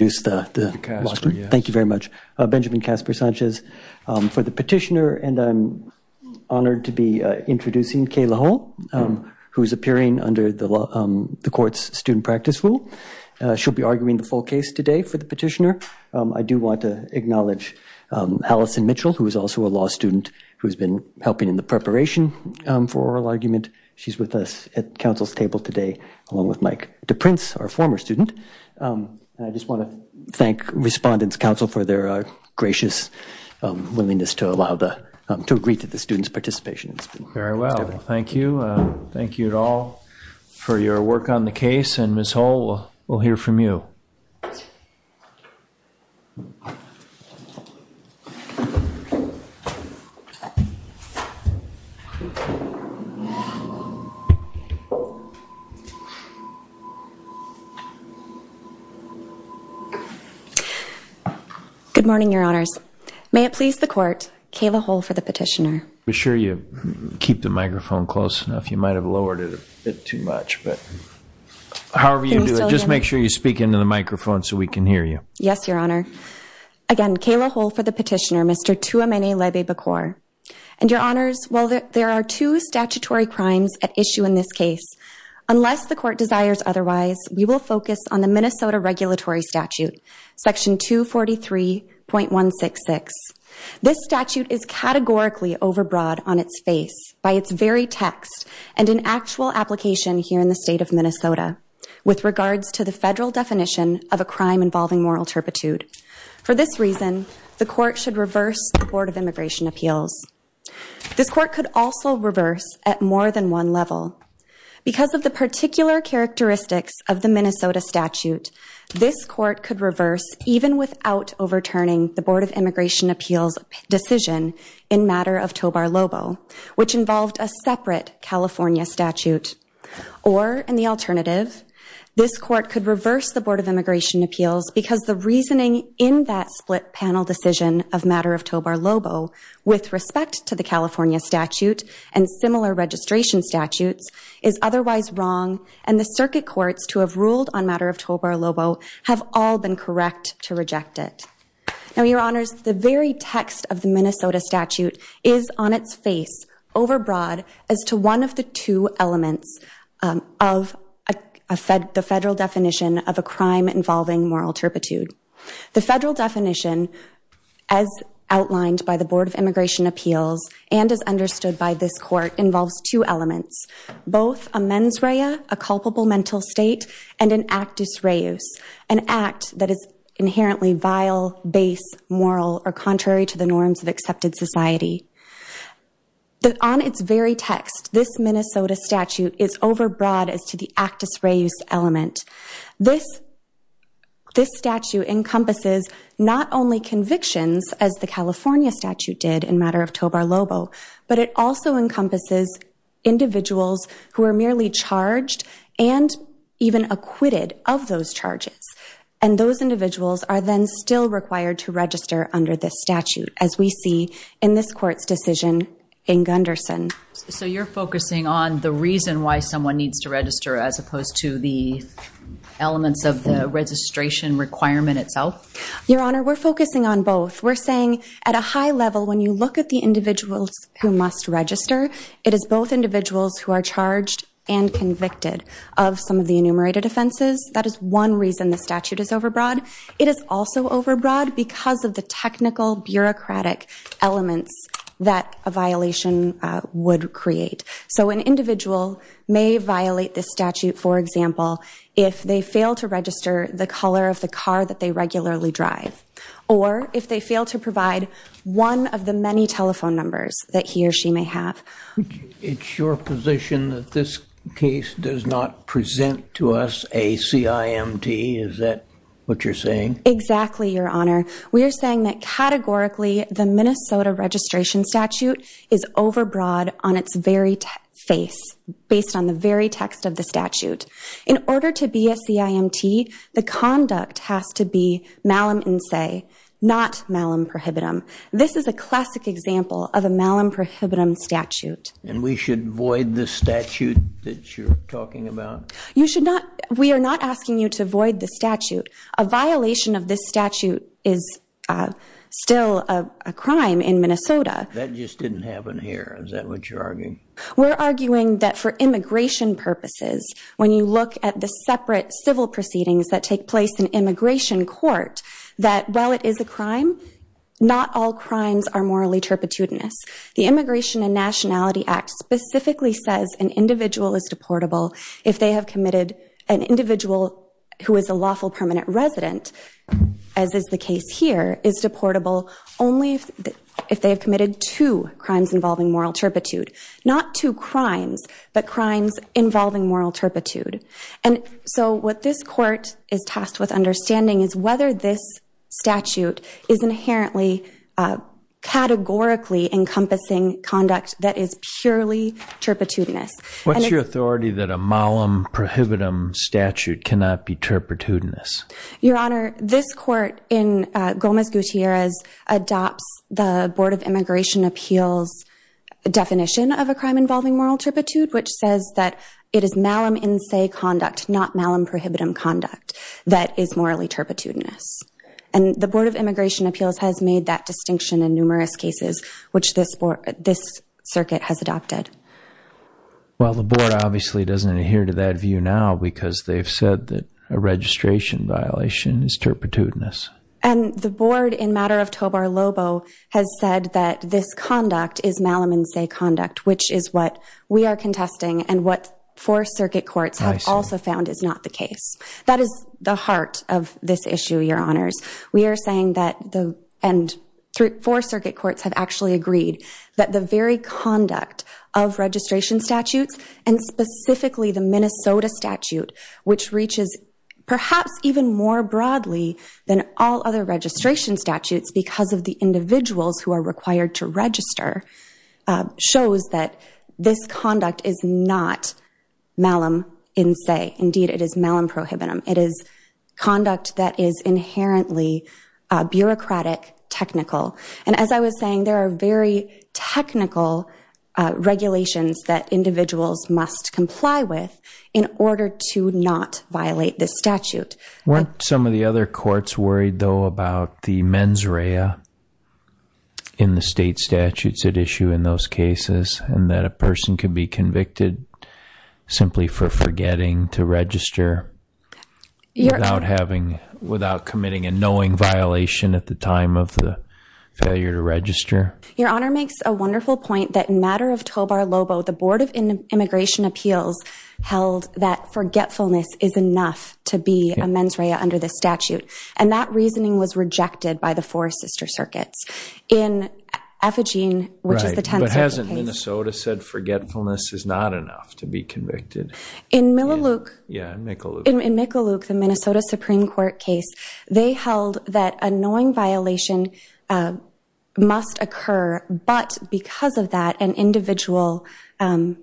Thank you very much. Benjamin Casper Sanchez for the petitioner, and I'm honoured to be introducing Kay Lajoie, who is appearing under the court's student practice rule. She'll be arguing the full case today for the petitioner. I do want to acknowledge Allison Mitchell, who is also a law student who has been helping in the preparation for oral argument. She's with us at Council's table today, along with Mike DePrince, our former student. I just want to thank Respondents' Council for their gracious willingness to agree to the student's participation. Very well. Thank you. Thank you all for your work on the case, and Ms. Hull, we'll hear from you. Good morning, Your Honours. May it please the Court, Kay Lajoie for the petitioner. Make sure you keep the microphone close enough. You might have lowered it a bit too much, but however you do it, just make sure you speak into the microphone so we can hear you. Yes, Your Honour. Again, Kay Lajoie for the petitioner, Mr. Tua Mene Lebie Bakor. And Your Honours, while there are two statutory crimes at issue in this case, unless the Court desires otherwise, we will focus on the Minnesota Regulatory Statute, Section 243.166. This statute is categorically overbroad on its face by its very text and in actual application here in the state of Minnesota with regards to the federal definition of a crime involving moral turpitude. For this reason, the Court should reverse the Board of Immigration Appeals. This Court could also reverse at more than one level because of the particular characteristics of the Minnesota statute, this Court could reverse even without overturning the Board of Immigration Appeals decision in matter of tobar lobo, which involved a separate California statute. Or, in the alternative, this Court could reverse the Board of Immigration Appeals because the reasoning in that split panel decision of matter of tobar lobo with respect to the California statute and similar registration statutes is otherwise wrong and the circuit courts to have ruled on matter of tobar lobo have all been correct to reject it. Now, Your Honours, the very text of the Minnesota statute is on its face, overbroad, as to one of the two elements of the federal definition of a crime involving moral turpitude. The federal definition, as outlined by the Board of Immigration Appeals and as understood by this Court, involves two elements, both a mens rea, a culpable mental state, and an actus reus, an act that is inherently vile, base, moral, or contrary to the norms of accepted society. On its very text, this Minnesota statute is overbroad as to the actus reus element. This statute encompasses not only convictions, as the California statute did in matter of tobar lobo, but it also encompasses individuals who are merely charged and even acquitted of those charges. And those individuals are then still required to register under this statute, as we see in this Court's decision in Gunderson. So you're focusing on the reason why someone needs to register as opposed to the elements of the registration requirement itself? Your Honour, we're focusing on both. We're saying at a high level, when you look at the individuals who must register, it is both individuals who are charged and convicted of some of the enumerated offenses. That is one reason the statute is overbroad. It is also overbroad because of the technical bureaucratic elements that a violation would create. So an individual may violate this statute, for example, if they fail to register the color of the car that they regularly drive, or if they fail to provide one of the many telephone numbers that he or she may have. It's your position that this case does not present to us a CIMT? Is that what you're saying? Exactly, Your Honour. We are saying that categorically the Minnesota registration statute is overbroad on its very face, based on the very text of the statute. In order to be a CIMT, the conduct has to be malum in se, not malum prohibitum. This is a classic example of a malum prohibitum statute. And we should void the statute that you're talking about? You should not. We are not asking you to void the statute. A violation of this statute is still a crime in Minnesota. That just didn't happen here. Is that what you're arguing? We're arguing that for immigration purposes, when you look at the separate civil proceedings that take place in immigration court, that while it is a crime, not all crimes are morally turpitudinous. The Immigration and Nationality Act specifically says an individual is deportable if they have committed an individual who is a lawful permanent resident, as is the case here, is deportable only if they have committed two crimes involving moral turpitude. Not two crimes, but crimes involving moral turpitude. And so what this court is tasked with understanding is whether this statute is inherently categorically encompassing conduct that is purely turpitudinous. What's your authority that a malum prohibitum statute cannot be turpitudinous? Your Honor, this court, in Gomez-Gutierrez, adopts the Board of Immigration Appeals definition of a crime involving moral turpitude, which says that it is malum in se conduct, not malum prohibitum conduct, that is morally turpitudinous. And the Board of Immigration Appeals has made that distinction in numerous cases, which this circuit has adopted. Well, the Board obviously doesn't adhere to that view now, because they've said that a registration violation is turpitudinous. And the Board, in matter of Tobar-Lobo, has said that this conduct is malum in se conduct, which is what we are contesting and what four circuit courts have also found is not the case. That is the heart of this issue, Your Honors. And four circuit courts have actually agreed that the very conduct of registration statutes, and specifically the Minnesota statute, which reaches perhaps even more broadly than all other registration statutes because of the individuals who are required to register, shows that this conduct is not malum in se. Indeed, it is malum prohibitum. It is conduct that is inherently bureaucratic, technical. And as I was saying, there are very technical regulations that individuals must comply with in order to not violate this statute. Weren't some of the other courts worried, though, about the mens rea in the state statutes at issue in those cases and that a person could be convicted simply for forgetting to register without committing a knowing violation at the time of the failure to register? Your Honor makes a wonderful point that in matter of Tobar-Lobo, the Board of Immigration Appeals held that forgetfulness is enough to be a mens rea under the statute. And that reasoning was rejected by the four sister circuits. But hasn't Minnesota said forgetfulness is not enough to be convicted? In Mikaluk, the Minnesota Supreme Court case, they held that a knowing violation must occur, but because of that an individual has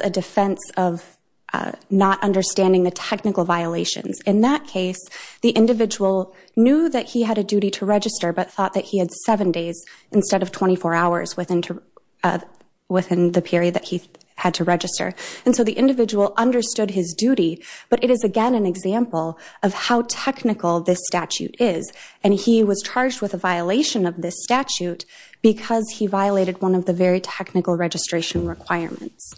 a defense of not understanding the technical violations. In that case, the individual knew that he had a duty to register but thought that he had seven days instead of 24 hours within the period that he had to register. And so the individual understood his duty, but it is again an example of how technical this statute is. And he was charged with a violation of this statute because he violated one of the very technical registration requirements.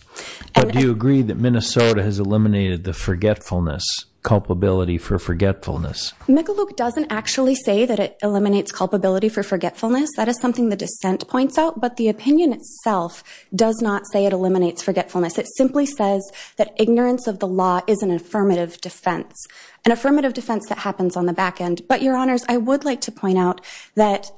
But do you agree that Minnesota has eliminated the forgetfulness, culpability for forgetfulness? Mikaluk doesn't actually say that it eliminates culpability for forgetfulness. That is something the dissent points out. But the opinion itself does not say it eliminates forgetfulness. It simply says that ignorance of the law is an affirmative defense, an affirmative defense that happens on the back end. But, Your Honors, I would like to point out that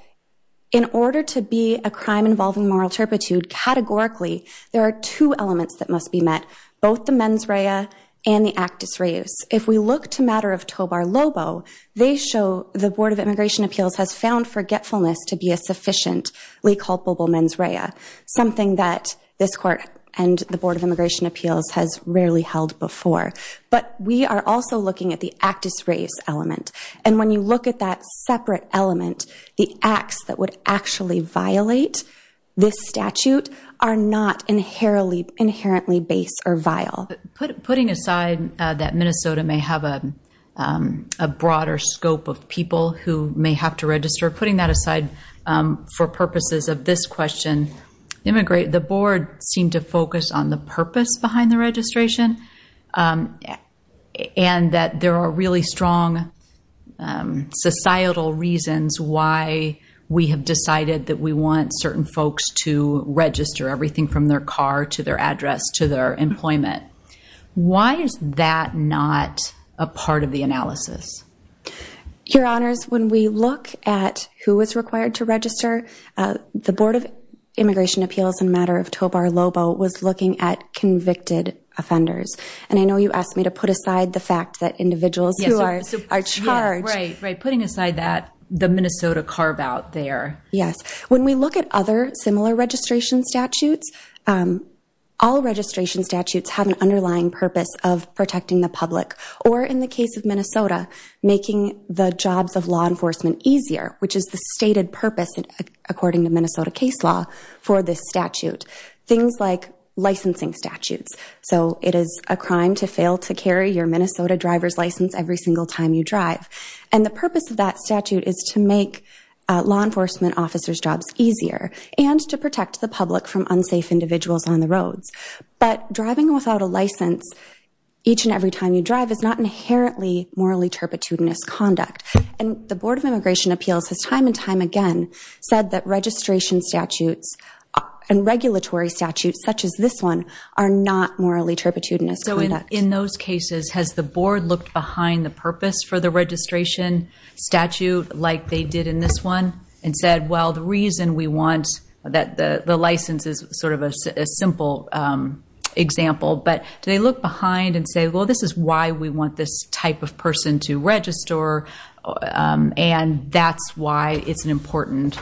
in order to be a crime involving moral turpitude, categorically there are two elements that must be met, both the mens rea and the actus reus. If we look to matter of Tobar Lobo, they show the Board of Immigration Appeals has found forgetfulness to be a sufficiently culpable mens rea, something that this Court and the Board of Immigration Appeals has rarely held before. But we are also looking at the actus reus element. And when you look at that separate element, the acts that would actually violate this statute are not inherently base or vile. Putting aside that Minnesota may have a broader scope of people who may have to register, putting that aside for purposes of this question, the Board seemed to focus on the purpose behind the registration and that there are really strong societal reasons why we have decided that we want certain folks to register, everything from their car to their address to their employment. Why is that not a part of the analysis? Your Honors, when we look at who is required to register, the Board of Immigration Appeals in matter of Tobar Lobo was looking at convicted offenders. And I know you asked me to put aside the fact that individuals who are charged. Putting aside that, the Minnesota carve out there. Yes. When we look at other similar registration statutes, all registration statutes have an underlying purpose of protecting the public or in the case of Minnesota, making the jobs of law enforcement easier, which is the stated purpose according to Minnesota case law for this statute. Things like licensing statutes. So it is a crime to fail to carry your Minnesota driver's license every single time you drive. And the purpose of that statute is to make law enforcement officers' jobs easier and to protect the public from unsafe individuals on the roads. But driving without a license each and every time you drive is not inherently morally turpitudinous conduct. And the Board of Immigration Appeals has time and time again said that registration statutes and regulatory statutes such as this one are not morally turpitudinous conduct. So in those cases, has the Board looked behind the purpose for the registration statute like they did in this one and said, well, the reason we want the license is sort of a simple example. But do they look behind and say, well, this is why we want this type of person to register and that's why it's an important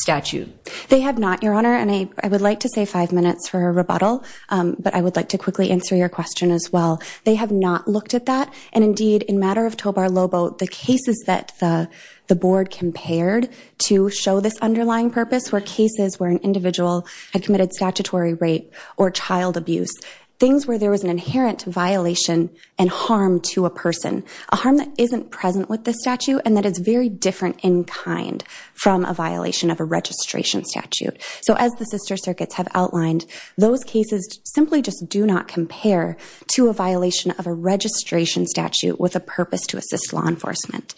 statute? They have not, Your Honor, and I would like to save five minutes for a rebuttal, but I would like to quickly answer your question as well. They have not looked at that. And indeed, in matter of Tobar-Lobo, the cases that the Board compared to show this underlying purpose were cases where an individual had committed statutory rape or child abuse. Things where there was an inherent violation and harm to a person. A harm that isn't present with this statute and that is very different in kind from a violation of a registration statute. So as the sister circuits have outlined, those cases simply just do not compare to a violation of a registration statute with a purpose to assist law enforcement.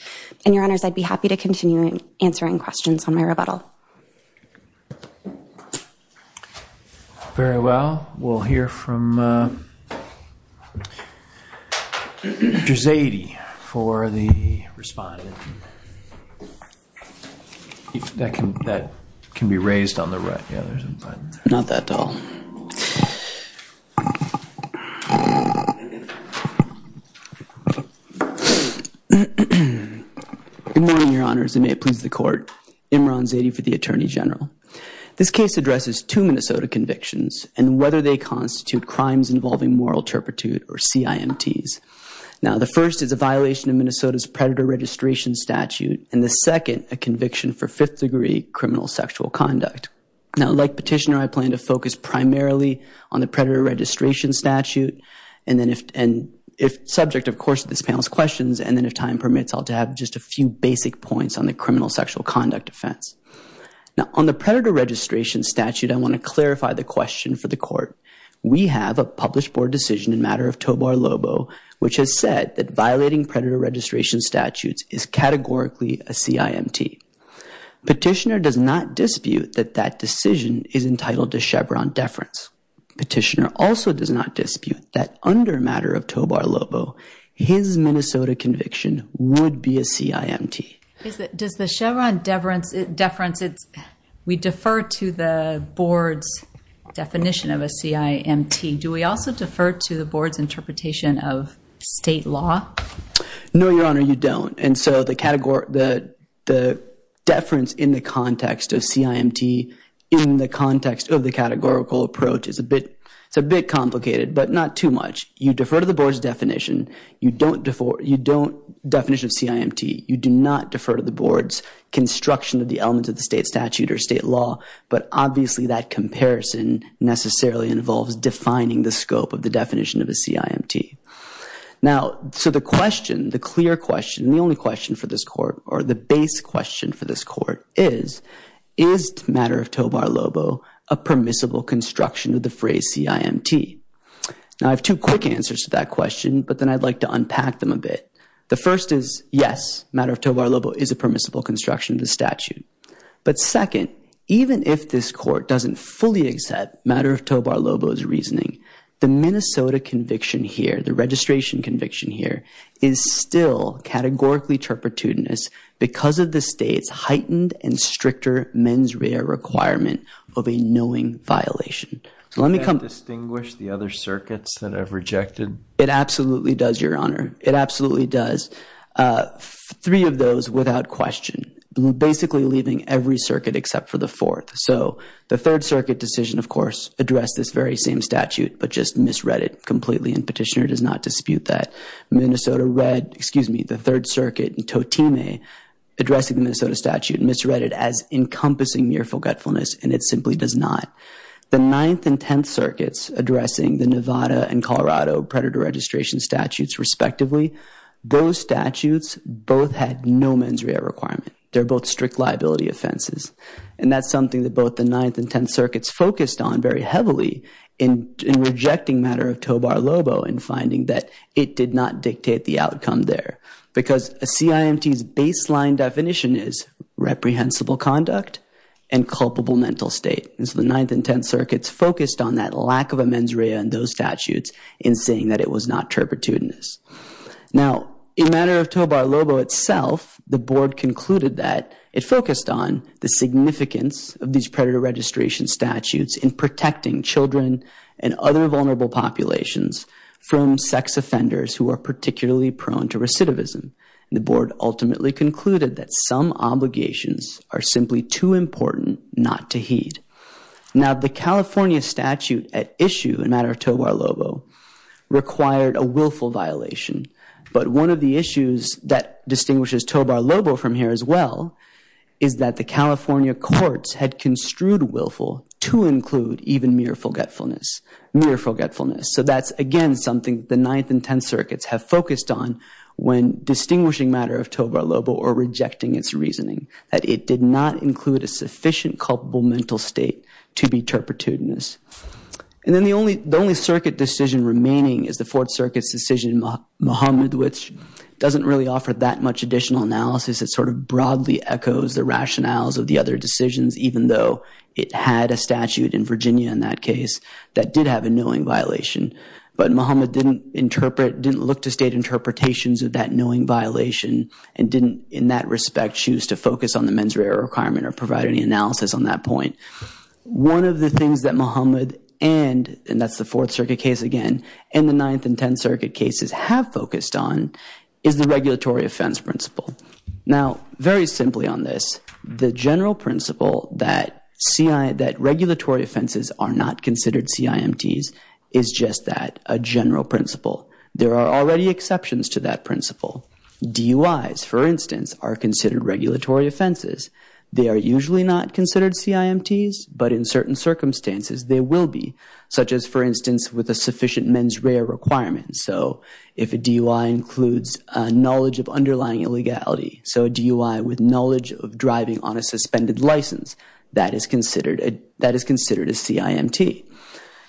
And, Your Honors, I'd be happy to continue answering questions on my rebuttal. Very well. We'll hear from Dr. Zadie for the respondent. That can be raised on the right. Not that tall. Good morning, Your Honors, and may it please the Court. Imran Zadie for the Attorney General. This case addresses two Minnesota convictions and whether they constitute crimes involving moral turpitude or CIMTs. Now, the first is a violation of Minnesota's predator registration statute and the second a conviction for fifth degree criminal sexual conduct. Now, like Petitioner, I plan to focus primarily on the predator registration statute and then if subject, of course, to this panel's questions and then if time permits, I'll have just a few basic points on the criminal sexual conduct offense. Now, on the predator registration statute, I want to clarify the question for the Court. We have a published board decision in matter of Tobar-Lobo, which has said that violating predator registration statutes is categorically a CIMT. Petitioner does not dispute that that decision is entitled to Chevron deference. Petitioner also does not dispute that under matter of Tobar-Lobo, his Minnesota conviction would be a CIMT. Does the Chevron deference, we defer to the board's definition of a CIMT. Do we also defer to the board's interpretation of state law? No, Your Honor, you don't. And so the deference in the context of CIMT, in the context of the categorical approach is a bit complicated, but not too much. You defer to the board's definition. You don't defer, you don't, definition of CIMT. You do not defer to the board's construction of the elements of the state statute or state law, but obviously that comparison necessarily involves defining the scope of the definition of a CIMT. Now, so the question, the clear question, the only question for this Court, or the base question for this Court is, is matter of Tobar-Lobo a permissible construction of the phrase CIMT? Now, I have two quick answers to that question, but then I'd like to unpack them a bit. The first is, yes, matter of Tobar-Lobo is a permissible construction of the statute. But second, even if this Court doesn't fully accept matter of Tobar-Lobo's reasoning, the Minnesota conviction here, the registration conviction here, is still categorically turpitudinous because of the state's heightened and stricter mens rea requirement of a knowing violation. Can I distinguish the other circuits that I've rejected? It absolutely does, Your Honor. It absolutely does. Three of those without question, basically leaving every circuit except for the fourth. So the Third Circuit decision, of course, addressed this very same statute, but just misread it completely, and Petitioner does not dispute that. Minnesota read, excuse me, the Third Circuit, and Thotime addressing the Minnesota statute misread it as encompassing mere forgetfulness, and it simply does not. The Ninth and Tenth Circuits addressing the Nevada and Colorado predator registration statutes respectively, those statutes both had no mens rea requirement. They're both strict liability offenses, and that's something that both the Ninth and Tenth Circuits focused on very heavily in rejecting matter of Tobar-Lobo and finding that it did not dictate the outcome there because a CIMT's baseline definition is reprehensible conduct and culpable mental state. And so the Ninth and Tenth Circuits focused on that lack of a mens rea in those statutes in saying that it was not turpitudinous. Now, in matter of Tobar-Lobo itself, the board concluded that it focused on the significance of these predator registration statutes in protecting children and other vulnerable populations from sex offenders who are particularly prone to recidivism. The board ultimately concluded that some obligations are simply too important not to heed. Now, the California statute at issue in matter of Tobar-Lobo required a willful violation, but one of the issues that distinguishes Tobar-Lobo from here as well is that the California courts had construed willful to include even mere forgetfulness. So that's, again, something the Ninth and Tenth Circuits have focused on when distinguishing matter of Tobar-Lobo or rejecting its reasoning, that it did not include a sufficient culpable mental state to be turpitudinous. And then the only circuit decision remaining is the Fourth Circuit's decision in Muhammad, which doesn't really offer that much additional analysis. It sort of broadly echoes the rationales of the other decisions, even though it had a statute in Virginia in that case that did have a knowing violation. But Muhammad didn't look to state interpretations of that knowing violation and didn't, in that respect, choose to focus on the mens rea requirement or provide any analysis on that point. One of the things that Muhammad and, and that's the Fourth Circuit case again, and the Ninth and Tenth Circuit cases have focused on is the regulatory offense principle. Now, very simply on this, the general principle that regulatory offenses are not considered CIMTs is just that, a general principle. There are already exceptions to that principle. DUIs, for instance, are considered regulatory offenses. They are usually not considered CIMTs, but in certain circumstances they will be, such as, for instance, with a sufficient mens rea requirement. So if a DUI includes knowledge of underlying illegality, so a DUI with knowledge of driving on a suspended license, that is considered a CIMT.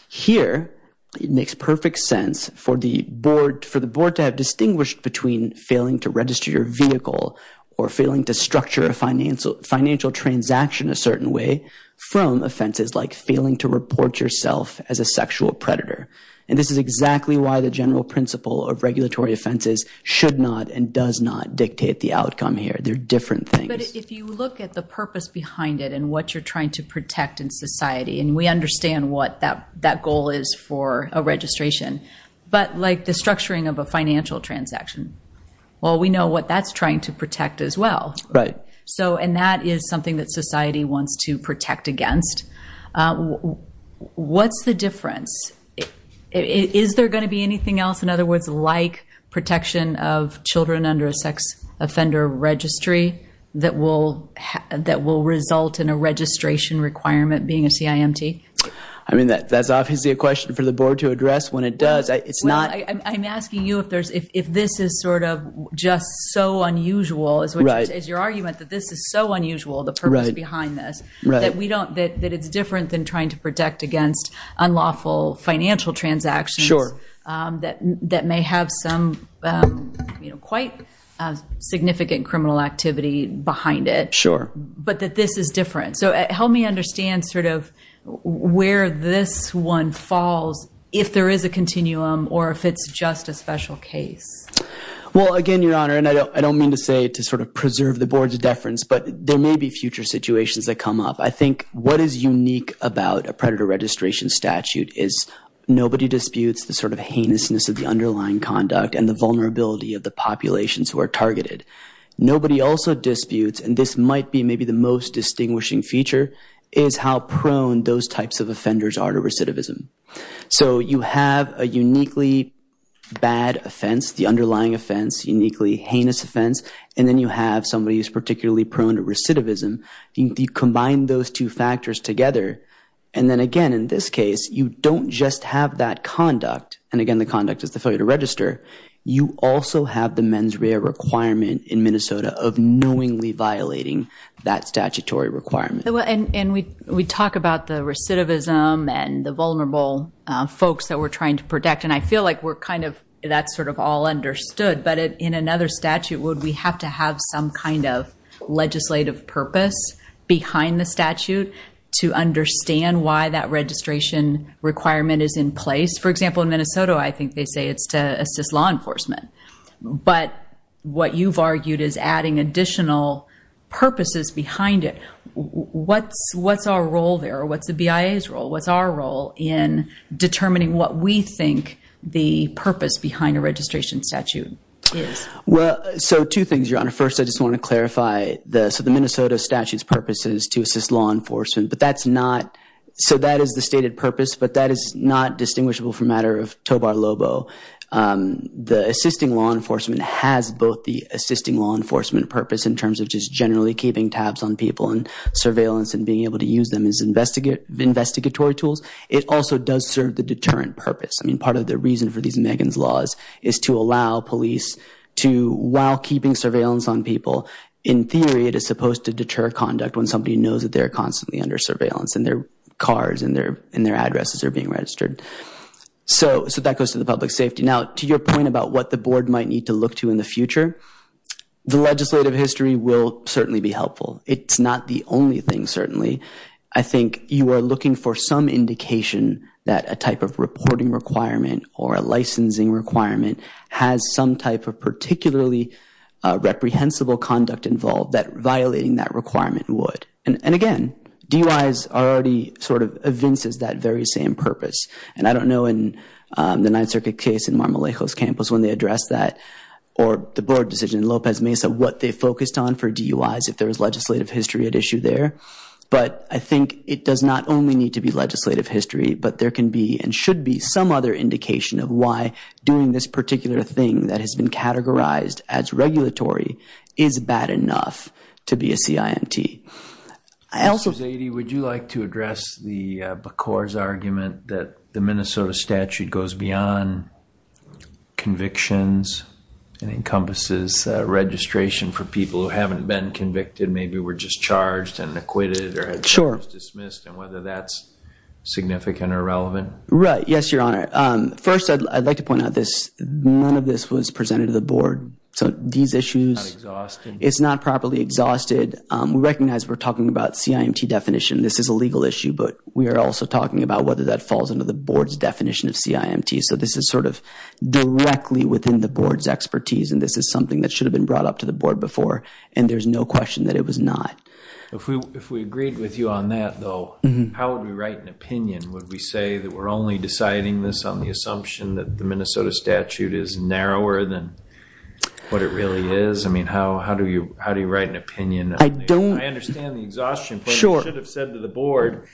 Here, it makes perfect sense for the board to have distinguished between failing to register your vehicle or failing to structure a financial transaction a certain way from offenses like failing to report yourself as a sexual predator. And this is exactly why the general principle of regulatory offenses should not and does not dictate the outcome here. They're different things. But if you look at the purpose behind it and what you're trying to protect in society, and we understand what that goal is for a registration, but like the structuring of a financial transaction, well, we know what that's trying to protect as well. Right. And that is something that society wants to protect against. What's the difference? Is there going to be anything else, in other words, like protection of children under a sex offender registry that will result in a registration requirement being a CIMT? I mean, that's obviously a question for the board to address. When it does, it's not. Well, I'm asking you if this is sort of just so unusual, as your argument that this is so unusual, the purpose behind this, that it's different than trying to protect against unlawful financial transactions that may have some quite significant criminal activity behind it. Sure. But that this is different. So help me understand sort of where this one falls if there is a continuum or if it's just a special case. Well, again, Your Honor, and I don't mean to say to sort of preserve the board's deference, but there may be future situations that come up. I think what is unique about a predator registration statute is nobody disputes the sort of heinousness of the underlying conduct and the vulnerability of the populations who are targeted. Nobody also disputes, and this might be maybe the most distinguishing feature, is how prone those types of offenders are to recidivism. So you have a uniquely bad offense, the underlying offense, uniquely heinous offense, and then you have somebody who's particularly prone to recidivism. You combine those two factors together, and then, again, in this case, you don't just have that conduct, and, again, the conduct is the failure to register. You also have the mens rea requirement in Minnesota of knowingly violating that statutory requirement. And we talk about the recidivism and the vulnerable folks that we're trying to protect, and I feel like we're kind of that's sort of all understood. But in another statute, would we have to have some kind of legislative purpose behind the statute to understand why that registration requirement is in place? For example, in Minnesota, I think they say it's to assist law enforcement. But what you've argued is adding additional purposes behind it. What's our role there? What's the BIA's role? What's our role in determining what we think the purpose behind a registration statute is? Well, so two things, Your Honor. First, I just want to clarify. So the Minnesota statute's purpose is to assist law enforcement, but that's not so that is the stated purpose, but that is not distinguishable from the matter of Tobar-Lobo. The assisting law enforcement has both the assisting law enforcement purpose in terms of just generally keeping tabs on people and surveillance and being able to use them as investigatory tools. It also does serve the deterrent purpose. I mean, part of the reason for these Megan's Laws is to allow police to, while keeping surveillance on people, in theory it is supposed to deter conduct when somebody knows that they're constantly under surveillance and their cars and their addresses are being registered. So that goes to the public safety. Now, to your point about what the Board might need to look to in the future, the legislative history will certainly be helpful. It's not the only thing, certainly. I think you are looking for some indication that a type of reporting requirement or a licensing requirement has some type of particularly reprehensible conduct involved that violating that requirement would. And again, DUIs already sort of evinces that very same purpose. And I don't know in the Ninth Circuit case in Mar-a-Lago's campus when they addressed that or the Board decision in Lopez Mesa what they focused on for DUIs if there was legislative history at issue there. But I think it does not only need to be legislative history, but there can be and should be some other indication of why doing this particular thing that has been categorized as regulatory is bad enough to be a CIMT. I also... Mr. Zadie, would you like to address the BACOR's argument that the Minnesota statute goes beyond convictions and encompasses registration for people who haven't been convicted, maybe were just charged and acquitted or dismissed, and whether that's significant or relevant? Right. Yes, Your Honor. First, I'd like to point out this. None of this was presented to the Board. So these issues... Not exhausted? It's not properly exhausted. We recognize we're talking about CIMT definition. This is a legal issue, but we are also talking about whether that falls under the Board's definition of CIMT. So this is sort of directly within the Board's expertise, and this is something that should have been brought up to the Board before, and there's no question that it was not. If we agreed with you on that, though, how would we write an opinion? Would we say that we're only deciding this on the assumption that the Minnesota statute is narrower than what it really is? I mean, how do you write an opinion? I don't. I understand the exhaustion, but you should have said to the Board,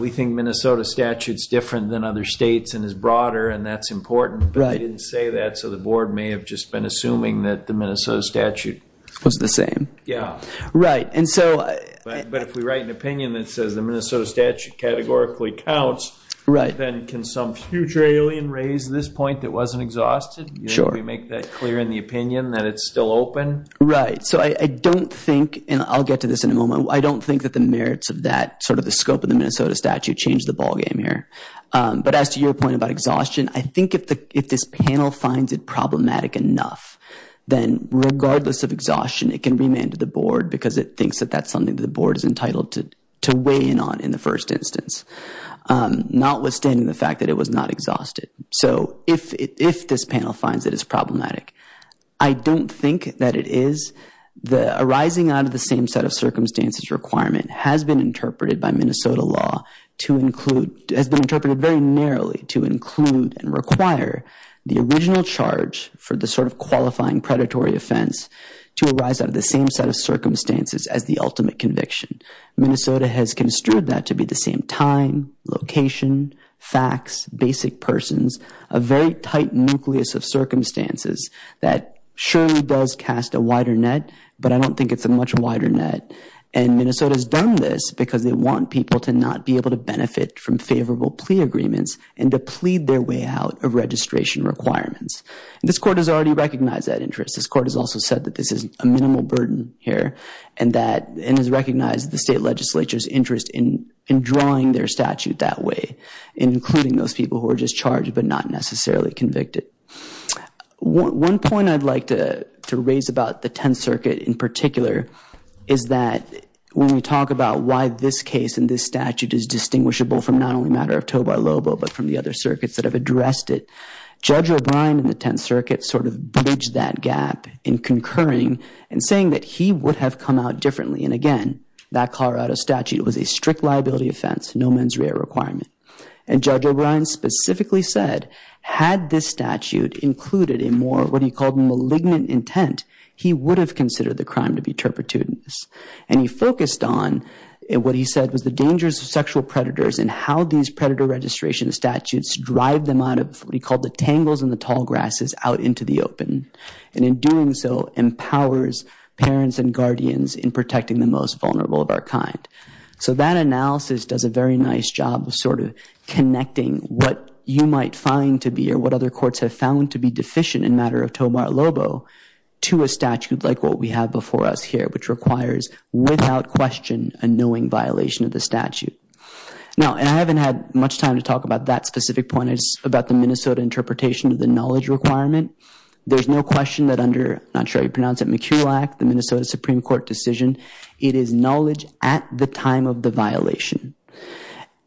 we think Minnesota statute's different than other states and is broader, and that's important, but you didn't say that, so the Board may have just been assuming that the Minnesota statute... Was the same. Yeah. Right, and so... But if we write an opinion that says the Minnesota statute categorically counts, then can some future alien raise this point that wasn't exhausted? Sure. We make that clear in the opinion that it's still open? Right. So I don't think, and I'll get to this in a moment, I don't think that the merits of that, sort of the scope of the Minnesota statute changed the ballgame here. But as to your point about exhaustion, I think if this panel finds it problematic enough, then regardless of exhaustion, it can remand to the Board because it thinks that that's something the Board is entitled to weigh in on in the first instance, notwithstanding the fact that it was not exhausted. So if this panel finds it is problematic, I don't think that it is. The arising out of the same set of circumstances requirement has been interpreted by Minnesota law to include, has been interpreted very narrowly to include and require the original charge for the sort of qualifying predatory offense to arise out of the same set of circumstances as the ultimate conviction. Minnesota has construed that to be the same time, location, facts, basic persons, a very tight nucleus of circumstances that surely does cast a wider net, but I don't think it's a much wider net. And Minnesota's done this because they want people to not be able to benefit from favorable plea agreements and to plead their way out of registration requirements. And this Court has already recognized that interest. This Court has also said that this is a minimal burden here and that it has recognized the state legislature's interest in drawing their statute that way, including those people who are just charged but not necessarily convicted. One point I'd like to raise about the Tenth Circuit in particular is that when we talk about why this case and this statute is distinguishable from not only a matter of toe by lobo but from the other circuits that have addressed it, Judge O'Brien in the Tenth Circuit sort of bridged that gap in concurring and saying that he would have come out differently. And again, that Colorado statute was a strict liability offense, no mens rea requirement. And Judge O'Brien specifically said, had this statute included a more, what he called malignant intent, he would have considered the crime to be turpitudinous. And he focused on what he said was the dangers of sexual predators and how these predator registration statutes drive them out of what he called the tangles in the tall grasses out into the open. And in doing so, empowers parents and guardians in protecting the most vulnerable of our kind. So that analysis does a very nice job of sort of connecting what you might find to be or what other courts have found to be deficient in a matter of toe by lobo to a statute like what we have before us here, which requires, without question, a knowing violation of the statute. Now, and I haven't had much time to talk about that specific point, it's about the Minnesota interpretation of the knowledge requirement. There's no question that under, I'm not sure how you pronounce it, McCulloch, the Minnesota Supreme Court decision, it is knowledge at the time of the violation.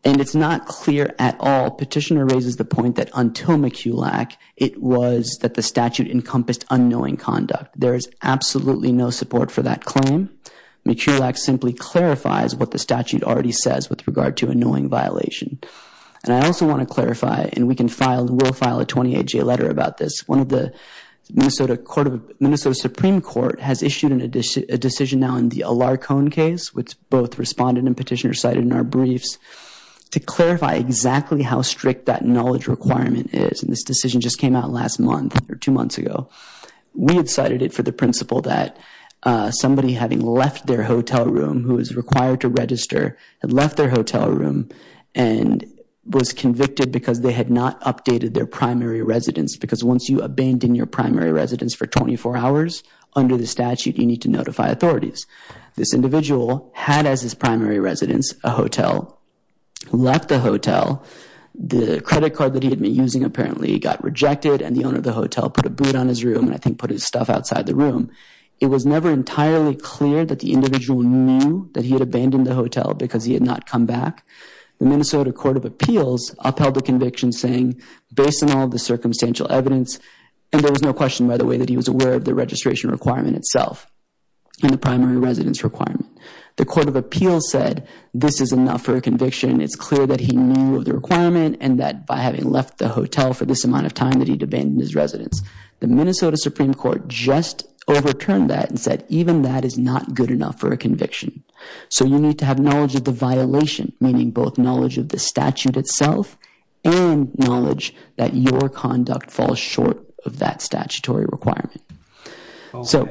And it's not clear at all. Petitioner raises the point that until McCulloch, it was that the statute encompassed unknowing conduct. There is absolutely no support for that claim. McCulloch simply clarifies what the statute already says with regard to a knowing violation. And I also want to clarify, and we can file, we'll file a 28-J letter about this, one of the Minnesota Supreme Court has issued a decision now in the Alarcone case, which both respondent and petitioner cited in our briefs, to clarify exactly how strict that knowledge requirement is. And this decision just came out last month or two months ago. We had cited it for the principle that somebody having left their hotel room who is required to register had left their hotel room and was convicted because they had not updated their primary residence. Because once you abandon your primary residence for 24 hours, under the statute you need to notify authorities. This individual had, as his primary residence, a hotel, left the hotel. The credit card that he had been using apparently got rejected and the owner of the hotel put a boot on his room and I think put his stuff outside the room. It was never entirely clear that the individual knew that he had abandoned the hotel because he had not come back. The Minnesota Court of Appeals upheld the conviction saying, based on all the circumstantial evidence, and there was no question, by the way, that he was aware of the registration requirement itself and the primary residence requirement. The Court of Appeals said this is enough for a conviction. It's clear that he knew of the requirement and that by having left the hotel for this amount of time that he had abandoned his residence. The Minnesota Supreme Court just overturned that and said even that is not good enough for a conviction. So you need to have knowledge of the violation, meaning both knowledge of the statute itself and knowledge that your conduct falls short of that statutory requirement. So,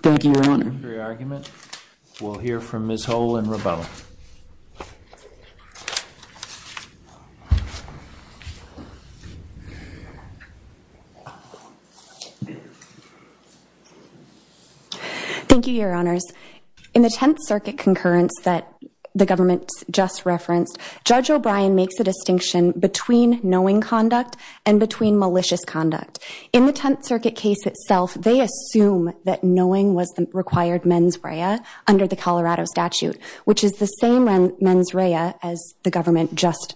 thank you, Your Honor. Thank you for your argument. We'll hear from Ms. Hull and Rebella. Thank you, Your Honors. In the Tenth Circuit concurrence that the government just referenced, Judge O'Brien makes a distinction between knowing conduct and between malicious conduct. In the Tenth Circuit case itself, they assume that knowing was the required mens rea under the Colorado statute, which is the same mens rea as the government just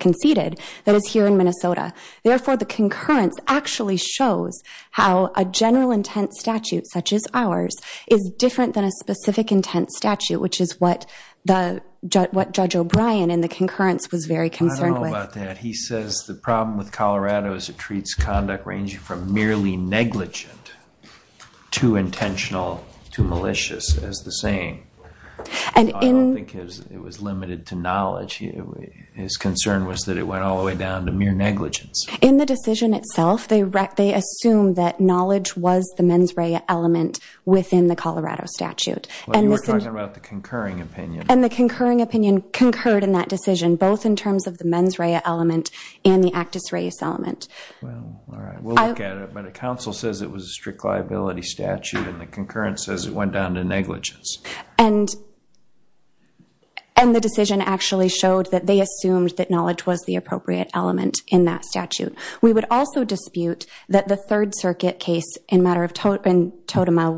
conceded that is here in Minnesota. Therefore, the concurrence actually shows how a general intent statute such as ours is different than a specific intent statute, which is what Judge O'Brien in the concurrence was very concerned with. I don't know about that. He says the problem with Colorado is it treats conduct ranging from merely negligent to intentional to malicious as the same. I don't think it was limited to knowledge. His concern was that it went all the way down to mere negligence. In the decision itself, they assume that knowledge was the mens rea element within the Colorado statute. You were talking about the concurring opinion. And the concurring opinion concurred in that decision, both in terms of the mens rea element and the actus reus element. Well, all right. We'll look at it. But the council says it was a strict liability statute, and the concurrence says it went down to negligence. And the decision actually showed that they assumed that knowledge was the appropriate element in that statute. We would also dispute that the Third Circuit case in matter of totem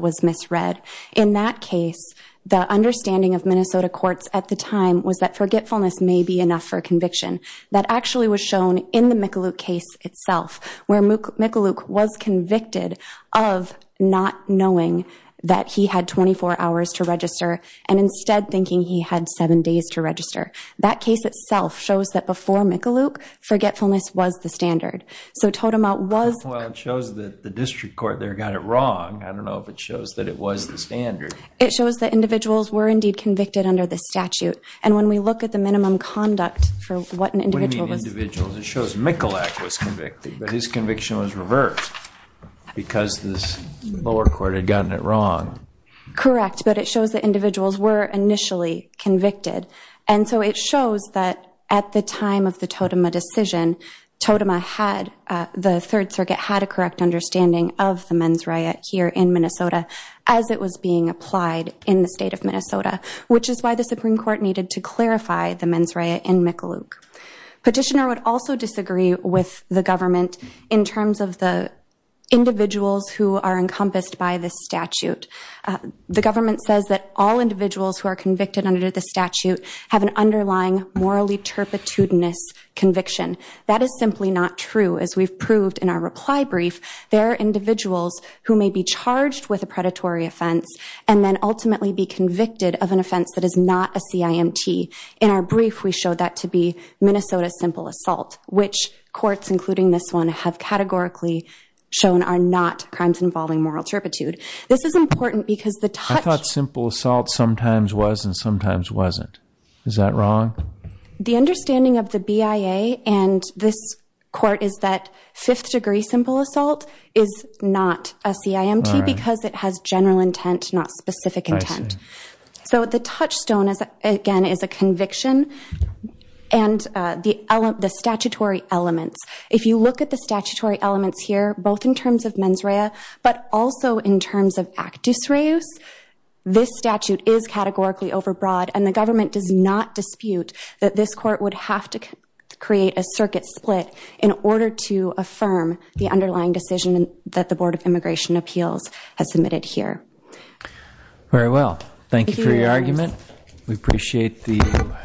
was misread. In that case, the understanding of Minnesota courts at the time was that forgetfulness may be enough for conviction. That actually was shown in the McAluke case itself, where McAluke was convicted of not knowing that he had 24 hours to register and instead thinking he had seven days to register. That case itself shows that before McAluke, forgetfulness was the standard. So totem out was... Well, it shows that the district court there got it wrong. I don't know if it shows that it was the standard. It shows that individuals were indeed convicted under the statute. And when we look at the minimum conduct for what an individual was... What do you mean individuals? It shows McAluke was convicted, but his conviction was reversed because the lower court had gotten it wrong. Correct. But it shows that individuals were initially convicted. And so it shows that at the time of the totem decision, the Third Circuit had a correct understanding of the men's riot here in Minnesota as it was being applied in the state of Minnesota, which is why the Supreme Court needed to clarify the men's riot in McAluke. Petitioner would also disagree with the government in terms of the individuals who are encompassed by this statute. The government says that all individuals who are convicted under the statute have an underlying morally turpitudinous conviction. That is simply not true. As we've proved in our reply brief, there are individuals who may be charged with a predatory offense and then ultimately be convicted of an offense that is not a CIMT. In our brief, we showed that to be Minnesota simple assault, which courts, including this one, have categorically shown are not crimes involving moral turpitude. This is important because the touch... I thought simple assault sometimes was and sometimes wasn't. Is that wrong? The understanding of the BIA and this court is that fifth-degree simple assault is not a CIMT because it has general intent, not specific intent. So the touchstone, again, is a conviction and the statutory elements. If you look at the statutory elements here, both in terms of mens rea but also in terms of actus reus, this statute is categorically overbroad, and the government does not dispute that this court would have to create a circuit split in order to affirm the underlying decision that the Board of Immigration Appeals has submitted here. Very well. Thank you for your argument. We appreciate the...